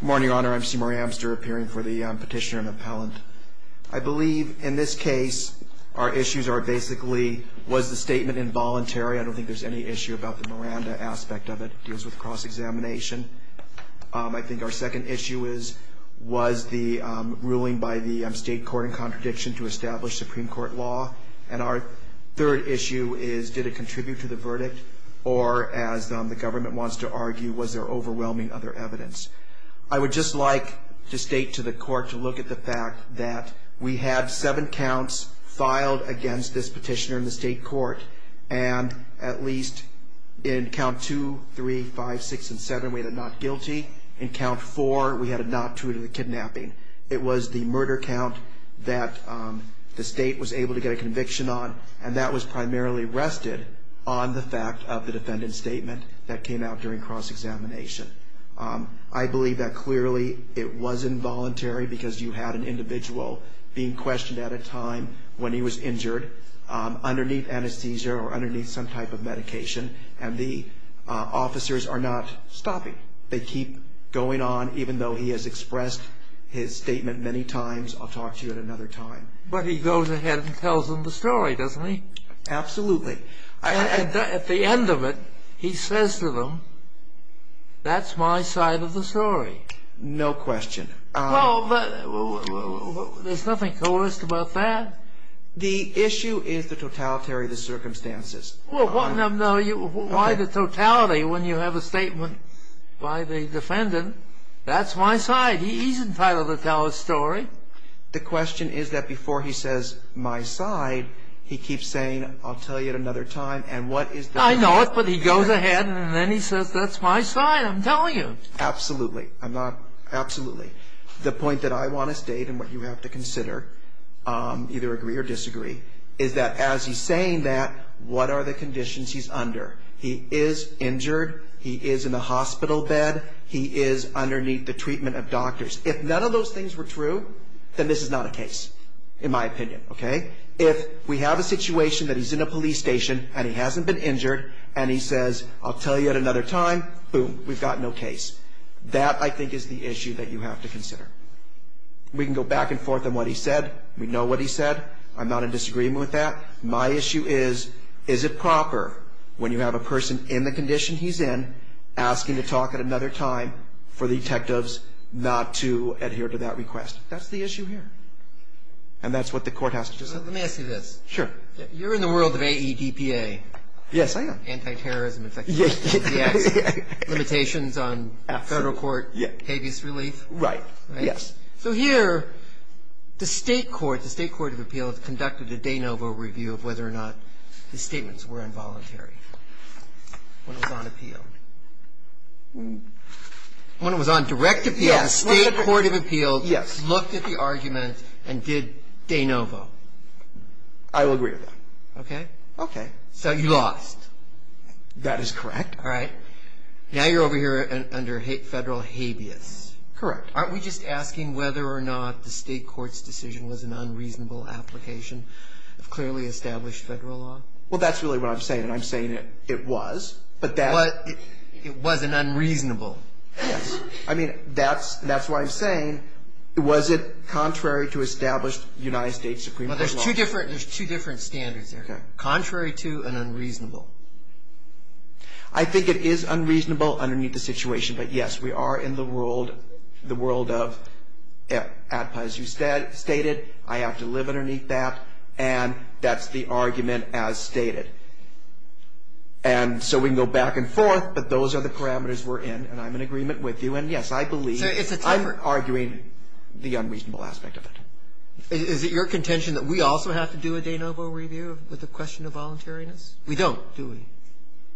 Good morning, Your Honor. I'm C. Murray Amster, appearing for the petitioner and appellant. I believe, in this case, our issues are basically, was the statement involuntary? I don't think there's any issue about the Miranda aspect of it. It deals with cross-examination. I think our second issue is, was the ruling by the state court in contradiction to establish Supreme Court law? And our third issue is, did it contribute to the verdict? Or, as the government wants to argue, was there overwhelming other evidence? I would just like to state to the court to look at the fact that we had seven counts filed against this petitioner in the state court. And at least in count 2, 3, 5, 6, and 7, we had a not guilty. In count 4, we had a not true to the kidnapping. It was the murder count that the state was able to get a conviction on. And that was primarily rested on the fact of the defendant's statement that came out during cross-examination. I believe that, clearly, it was involuntary because you had an individual being questioned at a time when he was injured, underneath anesthesia or underneath some type of medication, and the officers are not stopping. They keep going on, even though he has expressed his statement many times. I'll talk to you at another time. But he goes ahead and tells them the story, doesn't he? Absolutely. And at the end of it, he says to them, that's my side of the story. No question. Well, there's nothing coerced about that. The issue is the totalitarian circumstances. Well, why the totality when you have a statement by the defendant, that's my side. He's entitled to tell his story. The question is that before he says, my side, he keeps saying, I'll tell you at another time. I know it, but he goes ahead and then he says, that's my side, I'm telling you. Absolutely. The point that I want to state and what you have to consider, either agree or disagree, is that as he's saying that, what are the conditions he's under? He is injured. He is in a hospital bed. He is underneath the treatment of doctors. If none of those things were true, then this is not a case, in my opinion. If we have a situation that he's in a police station and he hasn't been injured and he says, I'll tell you at another time, boom, we've got no case. That, I think, is the issue that you have to consider. We can go back and forth on what he said. We know what he said. I'm not in disagreement with that. My issue is, is it proper when you have a person in the condition he's in asking to talk at another time for detectives not to adhere to that request? That's the issue here. And that's what the court has to decide. Let me ask you this. Sure. You're in the world of AEDPA. Yes, I am. Anti-terrorism. Limitations on federal court habeas relief. Right. Yes. So here, the State Court of Appeals conducted a de novo review of whether or not his statements were involuntary. When it was on appeal. When it was on direct appeal, the State Court of Appeals looked at the argument and did de novo. I will agree with that. Okay? Okay. So you lost. That is correct. All right. Now you're over here under federal habeas. Correct. Aren't we just asking whether or not the State Court's decision was an unreasonable application of clearly established federal law? Well, that's really what I'm saying. And I'm saying it was. But that. It was an unreasonable. Yes. I mean, that's why I'm saying, was it contrary to established United States Supreme Court law? Well, there's two different standards there. Okay. Contrary to and unreasonable. I think it is unreasonable underneath the situation. But, yes, we are in the world, the world of ADPA, as you stated. I have to live underneath that. And that's the argument as stated. And so we can go back and forth, but those are the parameters we're in. And I'm in agreement with you. And, yes, I believe. I'm arguing the unreasonable aspect of it. Is it your contention that we also have to do a de novo review with the question of voluntariness? We don't. We don't, do we?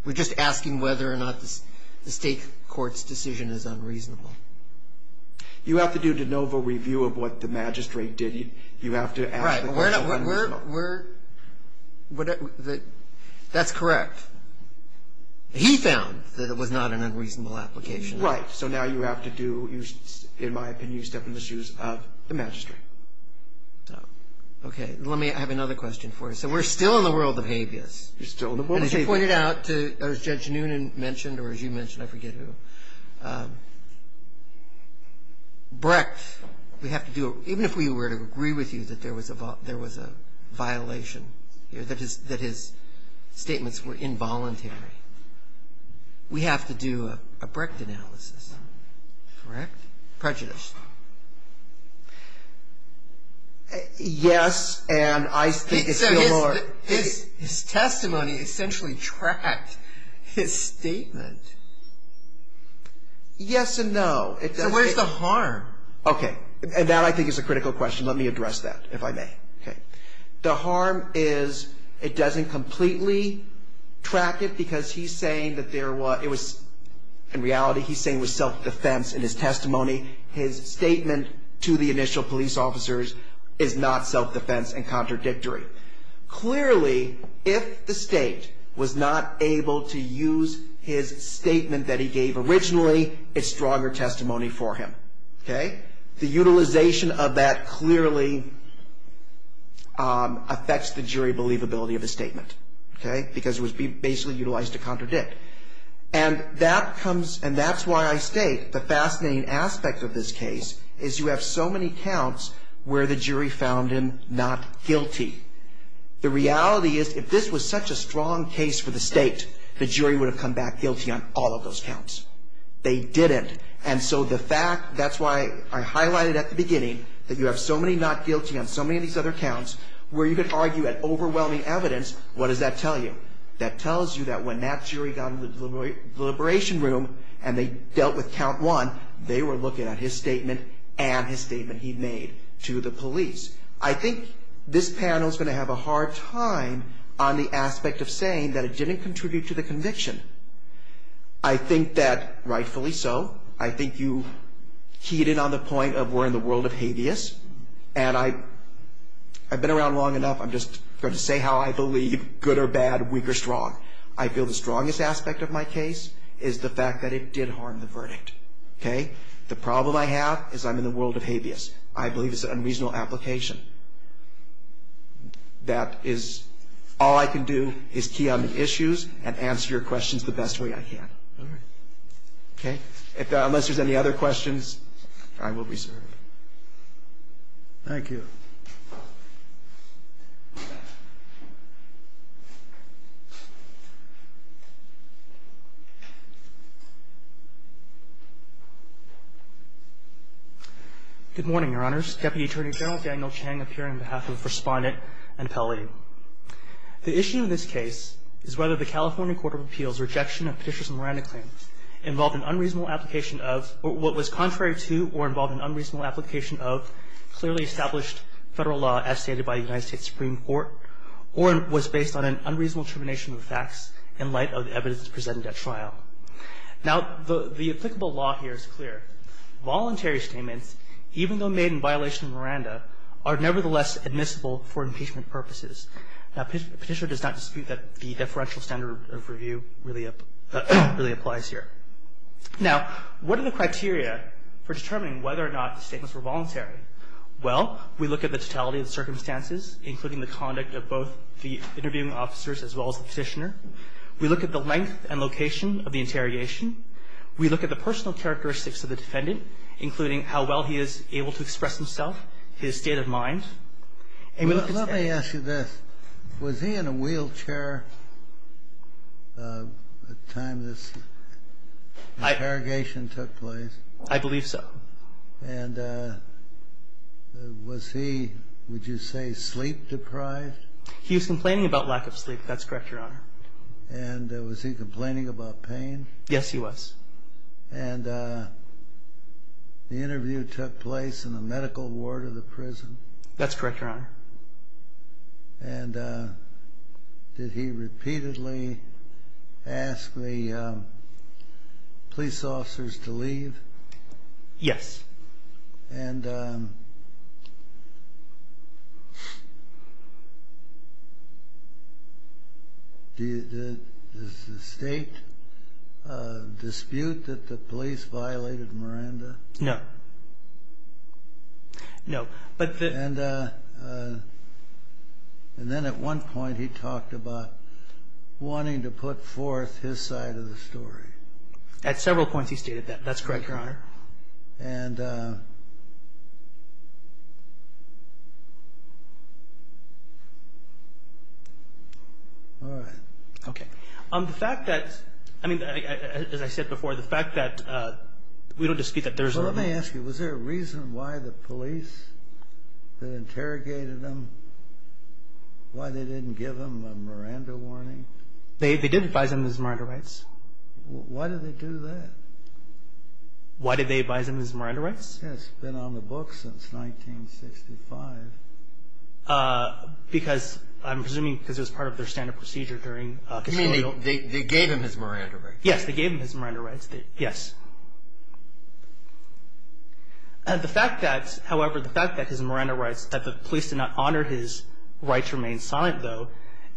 We're just asking whether or not the state court's decision is unreasonable. You have to do a de novo review of what the magistrate did. You have to ask the question of unreasonable. Right. That's correct. He found that it was not an unreasonable application. Right. So now you have to do, in my opinion, you step in the shoes of the magistrate. Okay. Let me have another question for you. So we're still in the world of habeas. You're still in the world of habeas. As you pointed out, as Judge Noonan mentioned, or as you mentioned, I forget who, Brecht, we have to do, even if we were to agree with you that there was a violation, that his statements were involuntary, we have to do a Brecht analysis. Correct? Prejudice. Yes, and I think it's still more. His testimony essentially tracked his statement. Yes and no. So where's the harm? Okay. And that, I think, is a critical question. Let me address that, if I may. Okay. The harm is it doesn't completely track it because he's saying that there was, in reality, he's saying it was self-defense in his testimony. His statement to the initial police officers is not self-defense and contradictory. Clearly, if the state was not able to use his statement that he gave originally, it's stronger testimony for him. Okay. The utilization of that clearly affects the jury believability of his statement. Okay. Because it was basically utilized to contradict. And that comes, and that's why I state the fascinating aspect of this case is you have so many counts where the jury found him not guilty. The reality is if this was such a strong case for the state, the jury would have come back guilty on all of those counts. They didn't. And so the fact, that's why I highlighted at the beginning that you have so many not guilty on so many of these other counts where you could argue that overwhelming evidence, what does that tell you? That tells you that when that jury got in the deliberation room and they dealt with count one, they were looking at his statement and his statement he made to the police. I think this panel is going to have a hard time on the aspect of saying that it didn't contribute to the conviction. I think that rightfully so. I think you keyed in on the point of we're in the world of habeas. And I've been around long enough. I'm just going to say how I believe, good or bad, weak or strong. I feel the strongest aspect of my case is the fact that it did harm the verdict. Okay? The problem I have is I'm in the world of habeas. I believe it's an unreasonable application. That is all I can do is key on the issues and answer your questions the best way I can. All right. Okay? Unless there's any other questions, I will reserve. Thank you. Good morning, Your Honors. Deputy Attorney General Daniel Chang up here on behalf of the Respondent and Appellee. The issue in this case is whether the California Court of Appeals' rejection of Petitioner's Miranda claim involved an unreasonable application of what was contrary to or involved an unreasonable application of clearly established federal law as stated by the United States Supreme Court or was based on an unreasonable tribunation of facts in light of the evidence presented at trial. Now, the applicable law here is clear. Voluntary statements, even though made in violation of Miranda, are nevertheless admissible for impeachment purposes. Now, Petitioner does not dispute that the deferential standard of review really applies here. Now, what are the criteria for determining whether or not the statements were voluntary? Well, we look at the totality of the circumstances, including the conduct of both the interviewing officers as well as the Petitioner. We look at the length and location of the interrogation. We look at the personal characteristics of the defendant, including how well he is able to express himself, his state of mind. Let me ask you this. Was he in a wheelchair at the time this interrogation took place? I believe so. And was he, would you say, sleep-deprived? He was complaining about lack of sleep. That's correct, Your Honor. And was he complaining about pain? Yes, he was. And the interview took place in the medical ward of the prison? That's correct, Your Honor. And did he repeatedly ask the police officers to leave? Yes. And does the State dispute that the police violated Miranda? No. And then at one point he talked about wanting to put forth his side of the story. At several points he stated that. That's correct, Your Honor. And all right. Okay. The fact that, I mean, as I said before, the fact that we don't dispute that there's a limit. Let me ask you, was there a reason why the police that interrogated him, why they didn't give him a Miranda warning? They did advise him of his Miranda rights. Why did they do that? Why did they advise him of his Miranda rights? It's been on the books since 1965. Because, I'm presuming because it was part of their standard procedure during Castillo. You mean they gave him his Miranda rights? Yes, they gave him his Miranda rights. Yes. The fact that, however, the fact that his Miranda rights, that the police did not honor his rights remain silent, though,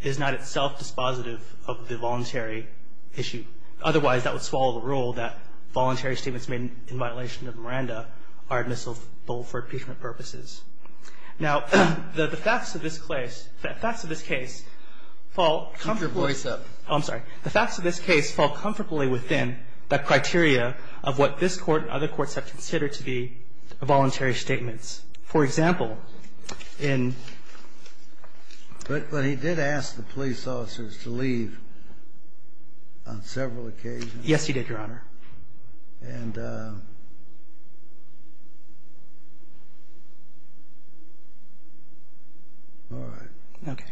is not itself dispositive of the voluntary issue. Otherwise, that would swallow the rule that voluntary statements made in violation of Miranda are admissible for impeachment purposes. Now, the facts of this case fall comfortably. Keep your voice up. I'm sorry. The facts of this case fall comfortably within the criteria of what this Court and other courts have considered to be voluntary statements. For example, in But he did ask the police officers to leave on several occasions. Yes, he did, Your Honor. All right. Okay.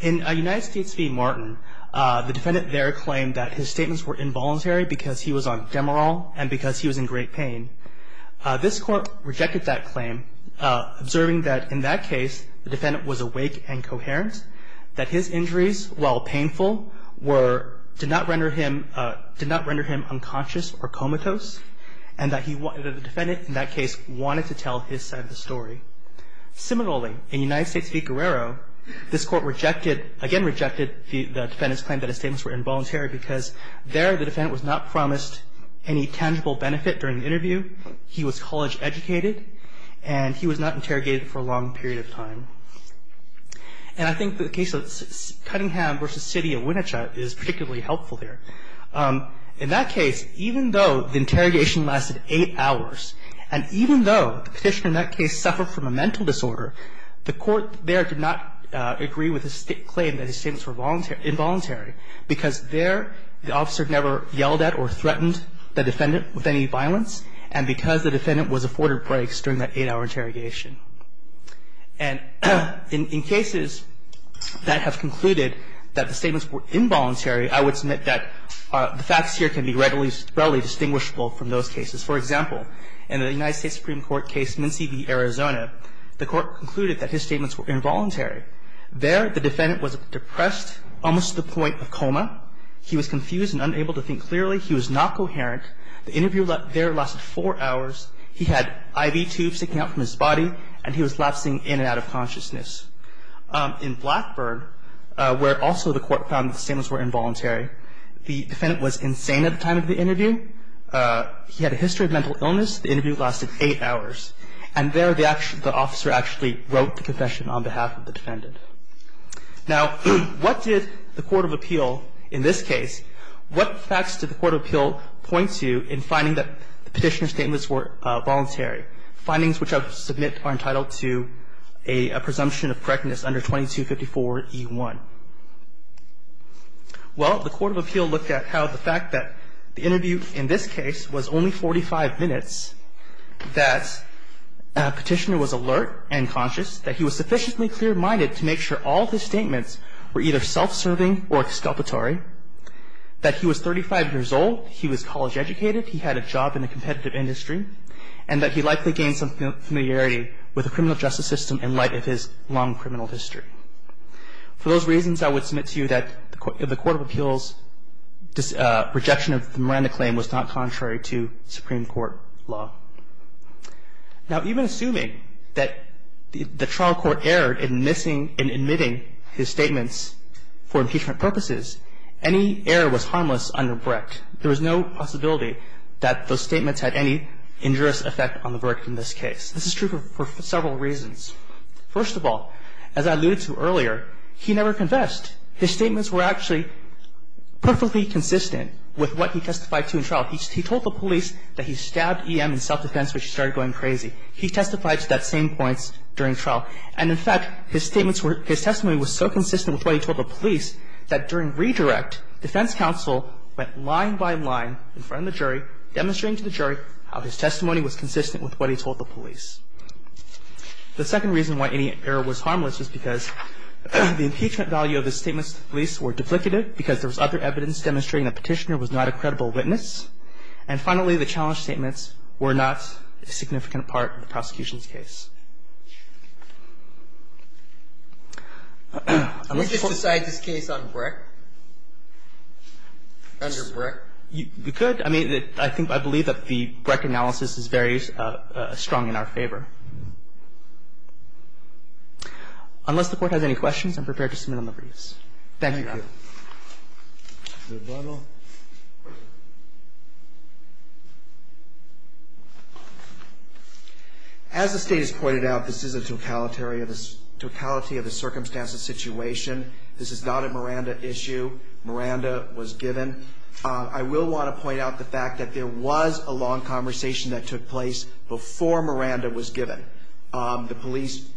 In United States v. Martin, the defendant there claimed that his statements were involuntary because he was on Demerol and because he was in great pain. This Court rejected that claim, observing that, in that case, the defendant was awake and coherent, that his injuries, while painful, did not render him unconscious or comatose, and that the defendant, in that case, wanted to tell his side of the story. Similarly, in United States v. Guerrero, this Court rejected, again rejected, the defendant's claim that his statements were involuntary because there the defendant was not promised any tangible benefit during the interview. He was college-educated, and he was not interrogated for a long period of time. And I think the case of Cunningham v. City of Winnicott is particularly helpful there. In that case, even though the interrogation lasted eight hours, and even though the statement came from a mental disorder, the Court there did not agree with his claim that his statements were involuntary because there the officer never yelled at or threatened the defendant with any violence, and because the defendant was afforded breaks during that eight-hour interrogation. And in cases that have concluded that the statements were involuntary, I would submit that the facts here can be readily distinguishable from those cases. For example, in the United States Supreme Court case, Mincy v. Arizona, the Court concluded that his statements were involuntary. There the defendant was depressed almost to the point of coma. He was confused and unable to think clearly. He was not coherent. The interview there lasted four hours. He had IV tubes sticking out from his body, and he was lapsing in and out of consciousness. In Blackburn, where also the Court found the statements were involuntary, the defendant was insane at the time of the interview. He had a history of mental illness. The interview lasted eight hours. And there the officer actually wrote the confession on behalf of the defendant. Now, what did the court of appeal in this case, what facts did the court of appeal point to in finding that the Petitioner's statements were voluntary, findings which I would submit are entitled to a presumption of correctness under 2254e1? Well, the court of appeal looked at how the fact that the interview in this case was only 45 minutes, that Petitioner was alert and conscious, that he was sufficiently clear-minded to make sure all of his statements were either self-serving or exculpatory, that he was 35 years old, he was college-educated, he had a job in the competitive industry, and that he likely gained some familiarity with the criminal justice system in light of his long criminal history. For those reasons, I would submit to you that the court of appeals' rejection of the Miranda claim was not contrary to Supreme Court law. Now, even assuming that the trial court erred in missing and admitting his statements for impeachment purposes, any error was harmless under BRIC. There was no possibility that those statements had any injurious effect on the verdict in this case. This is true for several reasons. First of all, as I alluded to earlier, he never confessed. His statements were actually perfectly consistent with what he testified to in trial. He told the police that he stabbed E.M. in self-defense, which started going crazy. He testified to that same points during trial. And, in fact, his statements were – his testimony was so consistent with what he told the police that during redirect, defense counsel went line by line in front of the jury, demonstrating to the jury how his testimony was consistent with what he told the police. The second reason why any error was harmless is because the impeachment value of his statements to the police were duplicative because there was other evidence demonstrating that Petitioner was not a credible witness. And, finally, the challenge statements were not a significant part of the prosecution's case. I'm looking for – Can we just decide this case on BRIC, under BRIC? You could. I mean, I think – I believe that the BRIC analysis is very strong in our favor. Unless the Court has any questions, I'm prepared to submit on the briefs. Thank you. As the State has pointed out, this is a totality of the circumstances, situation. This is not a Miranda issue. Miranda was given. I will want to point out the fact that there was a long conversation that took place before Miranda was given. The police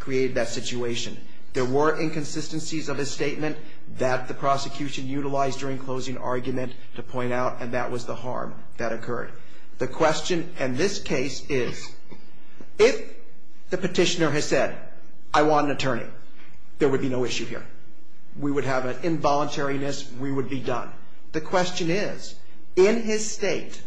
created that situation. There were inconsistencies of his statement that the prosecution utilized during closing argument to point out, and that was the harm that occurred. The question in this case is, if the Petitioner has said, I want an attorney, there would be no issue here. We would have an involuntariness. We would be done. The question is, in his State,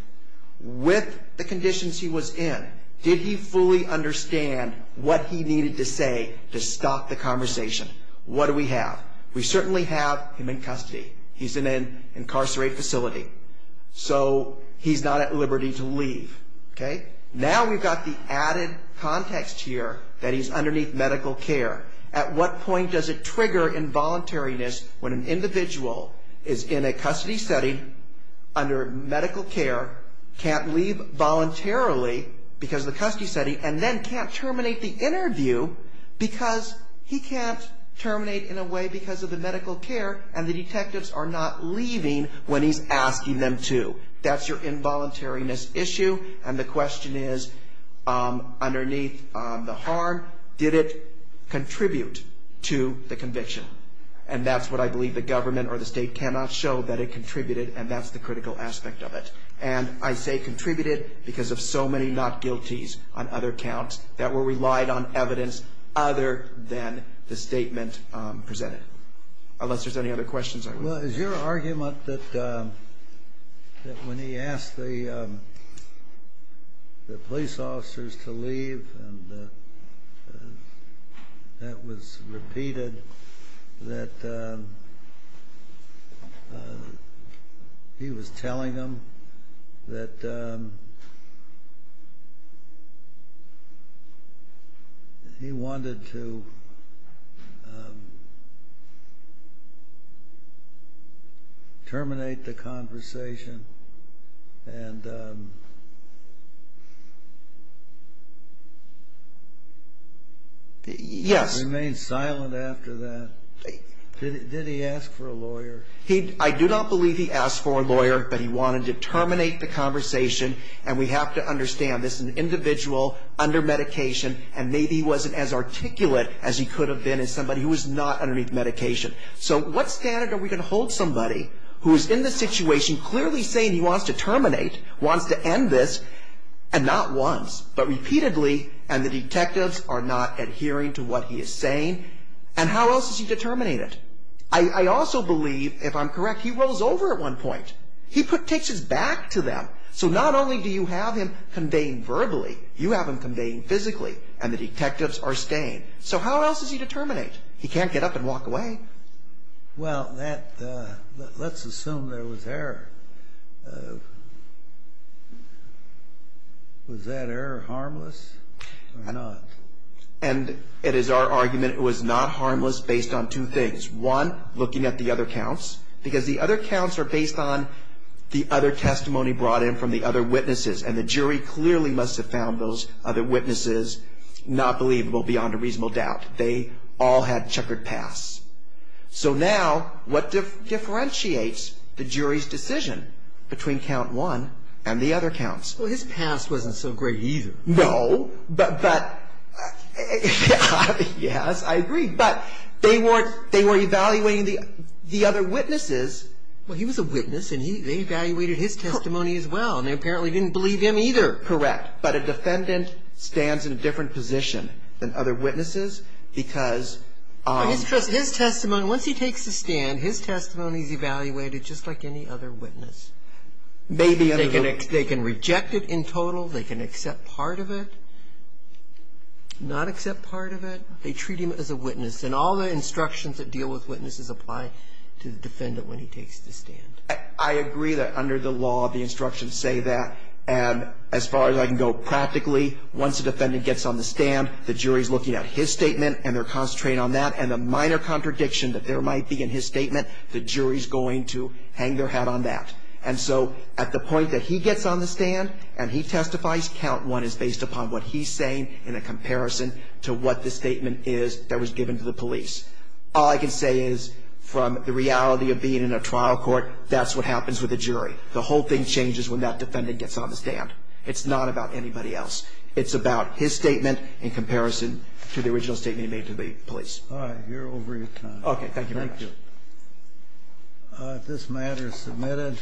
with the conditions he was in, did he fully understand what he needed to say to stop the conversation? What do we have? We certainly have him in custody. He's in an incarcerated facility, so he's not at liberty to leave. Okay? Now we've got the added context here that he's underneath medical care. At what point does it trigger involuntariness when an individual is in a custody setting under medical care, can't leave voluntarily because of the custody setting, and then can't terminate the interview because he can't terminate in a way because of the medical care, and the detectives are not leaving when he's asking them to? That's your involuntariness issue, and the question is, underneath the harm, did it contribute to the conviction? And that's what I believe the government or the State cannot show, that it contributed, and that's the critical aspect of it. And I say contributed because of so many not-guilties on other counts that were relied on evidence other than the statement presented. Unless there's any other questions. Well, is your argument that when he asked the police officers to leave and that was repeated, that he was telling them that he wanted to terminate the after that, did he ask for a lawyer? I do not believe he asked for a lawyer, but he wanted to terminate the conversation, and we have to understand, this is an individual under medication, and maybe he wasn't as articulate as he could have been as somebody who was not underneath medication. So what standard are we going to hold somebody who is in this situation clearly saying he wants to terminate, wants to end this, and not once, but And how else is he to terminate it? I also believe, if I'm correct, he rolls over at one point. He takes his back to them. So not only do you have him conveying verbally, you have him conveying physically, and the detectives are staying. So how else is he to terminate? He can't get up and walk away. Well, let's assume there was error. Was that error harmless or not? It was not harmless, and it is our argument it was not harmless based on two things. One, looking at the other counts, because the other counts are based on the other testimony brought in from the other witnesses, and the jury clearly must have found those other witnesses not believable beyond a reasonable doubt. They all had checkered pasts. So now, what differentiates the jury's decision between count one and the other counts? Well, his past wasn't so great either. No, but, yes, I agree, but they were evaluating the other witnesses. Well, he was a witness, and they evaluated his testimony as well, and they apparently didn't believe him either. Correct, but a defendant stands in a different position than other witnesses because His testimony, once he takes a stand, his testimony is evaluated just like any other witness. Maybe under the They can reject it in total. They can accept part of it, not accept part of it. They treat him as a witness, and all the instructions that deal with witnesses apply to the defendant when he takes the stand. I agree that under the law, the instructions say that, and as far as I can go, practically, once a defendant gets on the stand, the jury's looking at his statement and they're concentrating on that, and the minor contradiction that there might be in his statement, the jury's going to hang their hat on that, and so at the point that he gets on the stand and he testifies, count one is based upon what he's saying in a comparison to what the statement is that was given to the police. All I can say is, from the reality of being in a trial court, that's what happens with a jury. The whole thing changes when that defendant gets on the stand. It's not about anybody else. It's about his statement in comparison to the original statement he made to the police. All right. That's all I have here over your time. Okay. Thank you very much. Thank you. If this matter is submitted...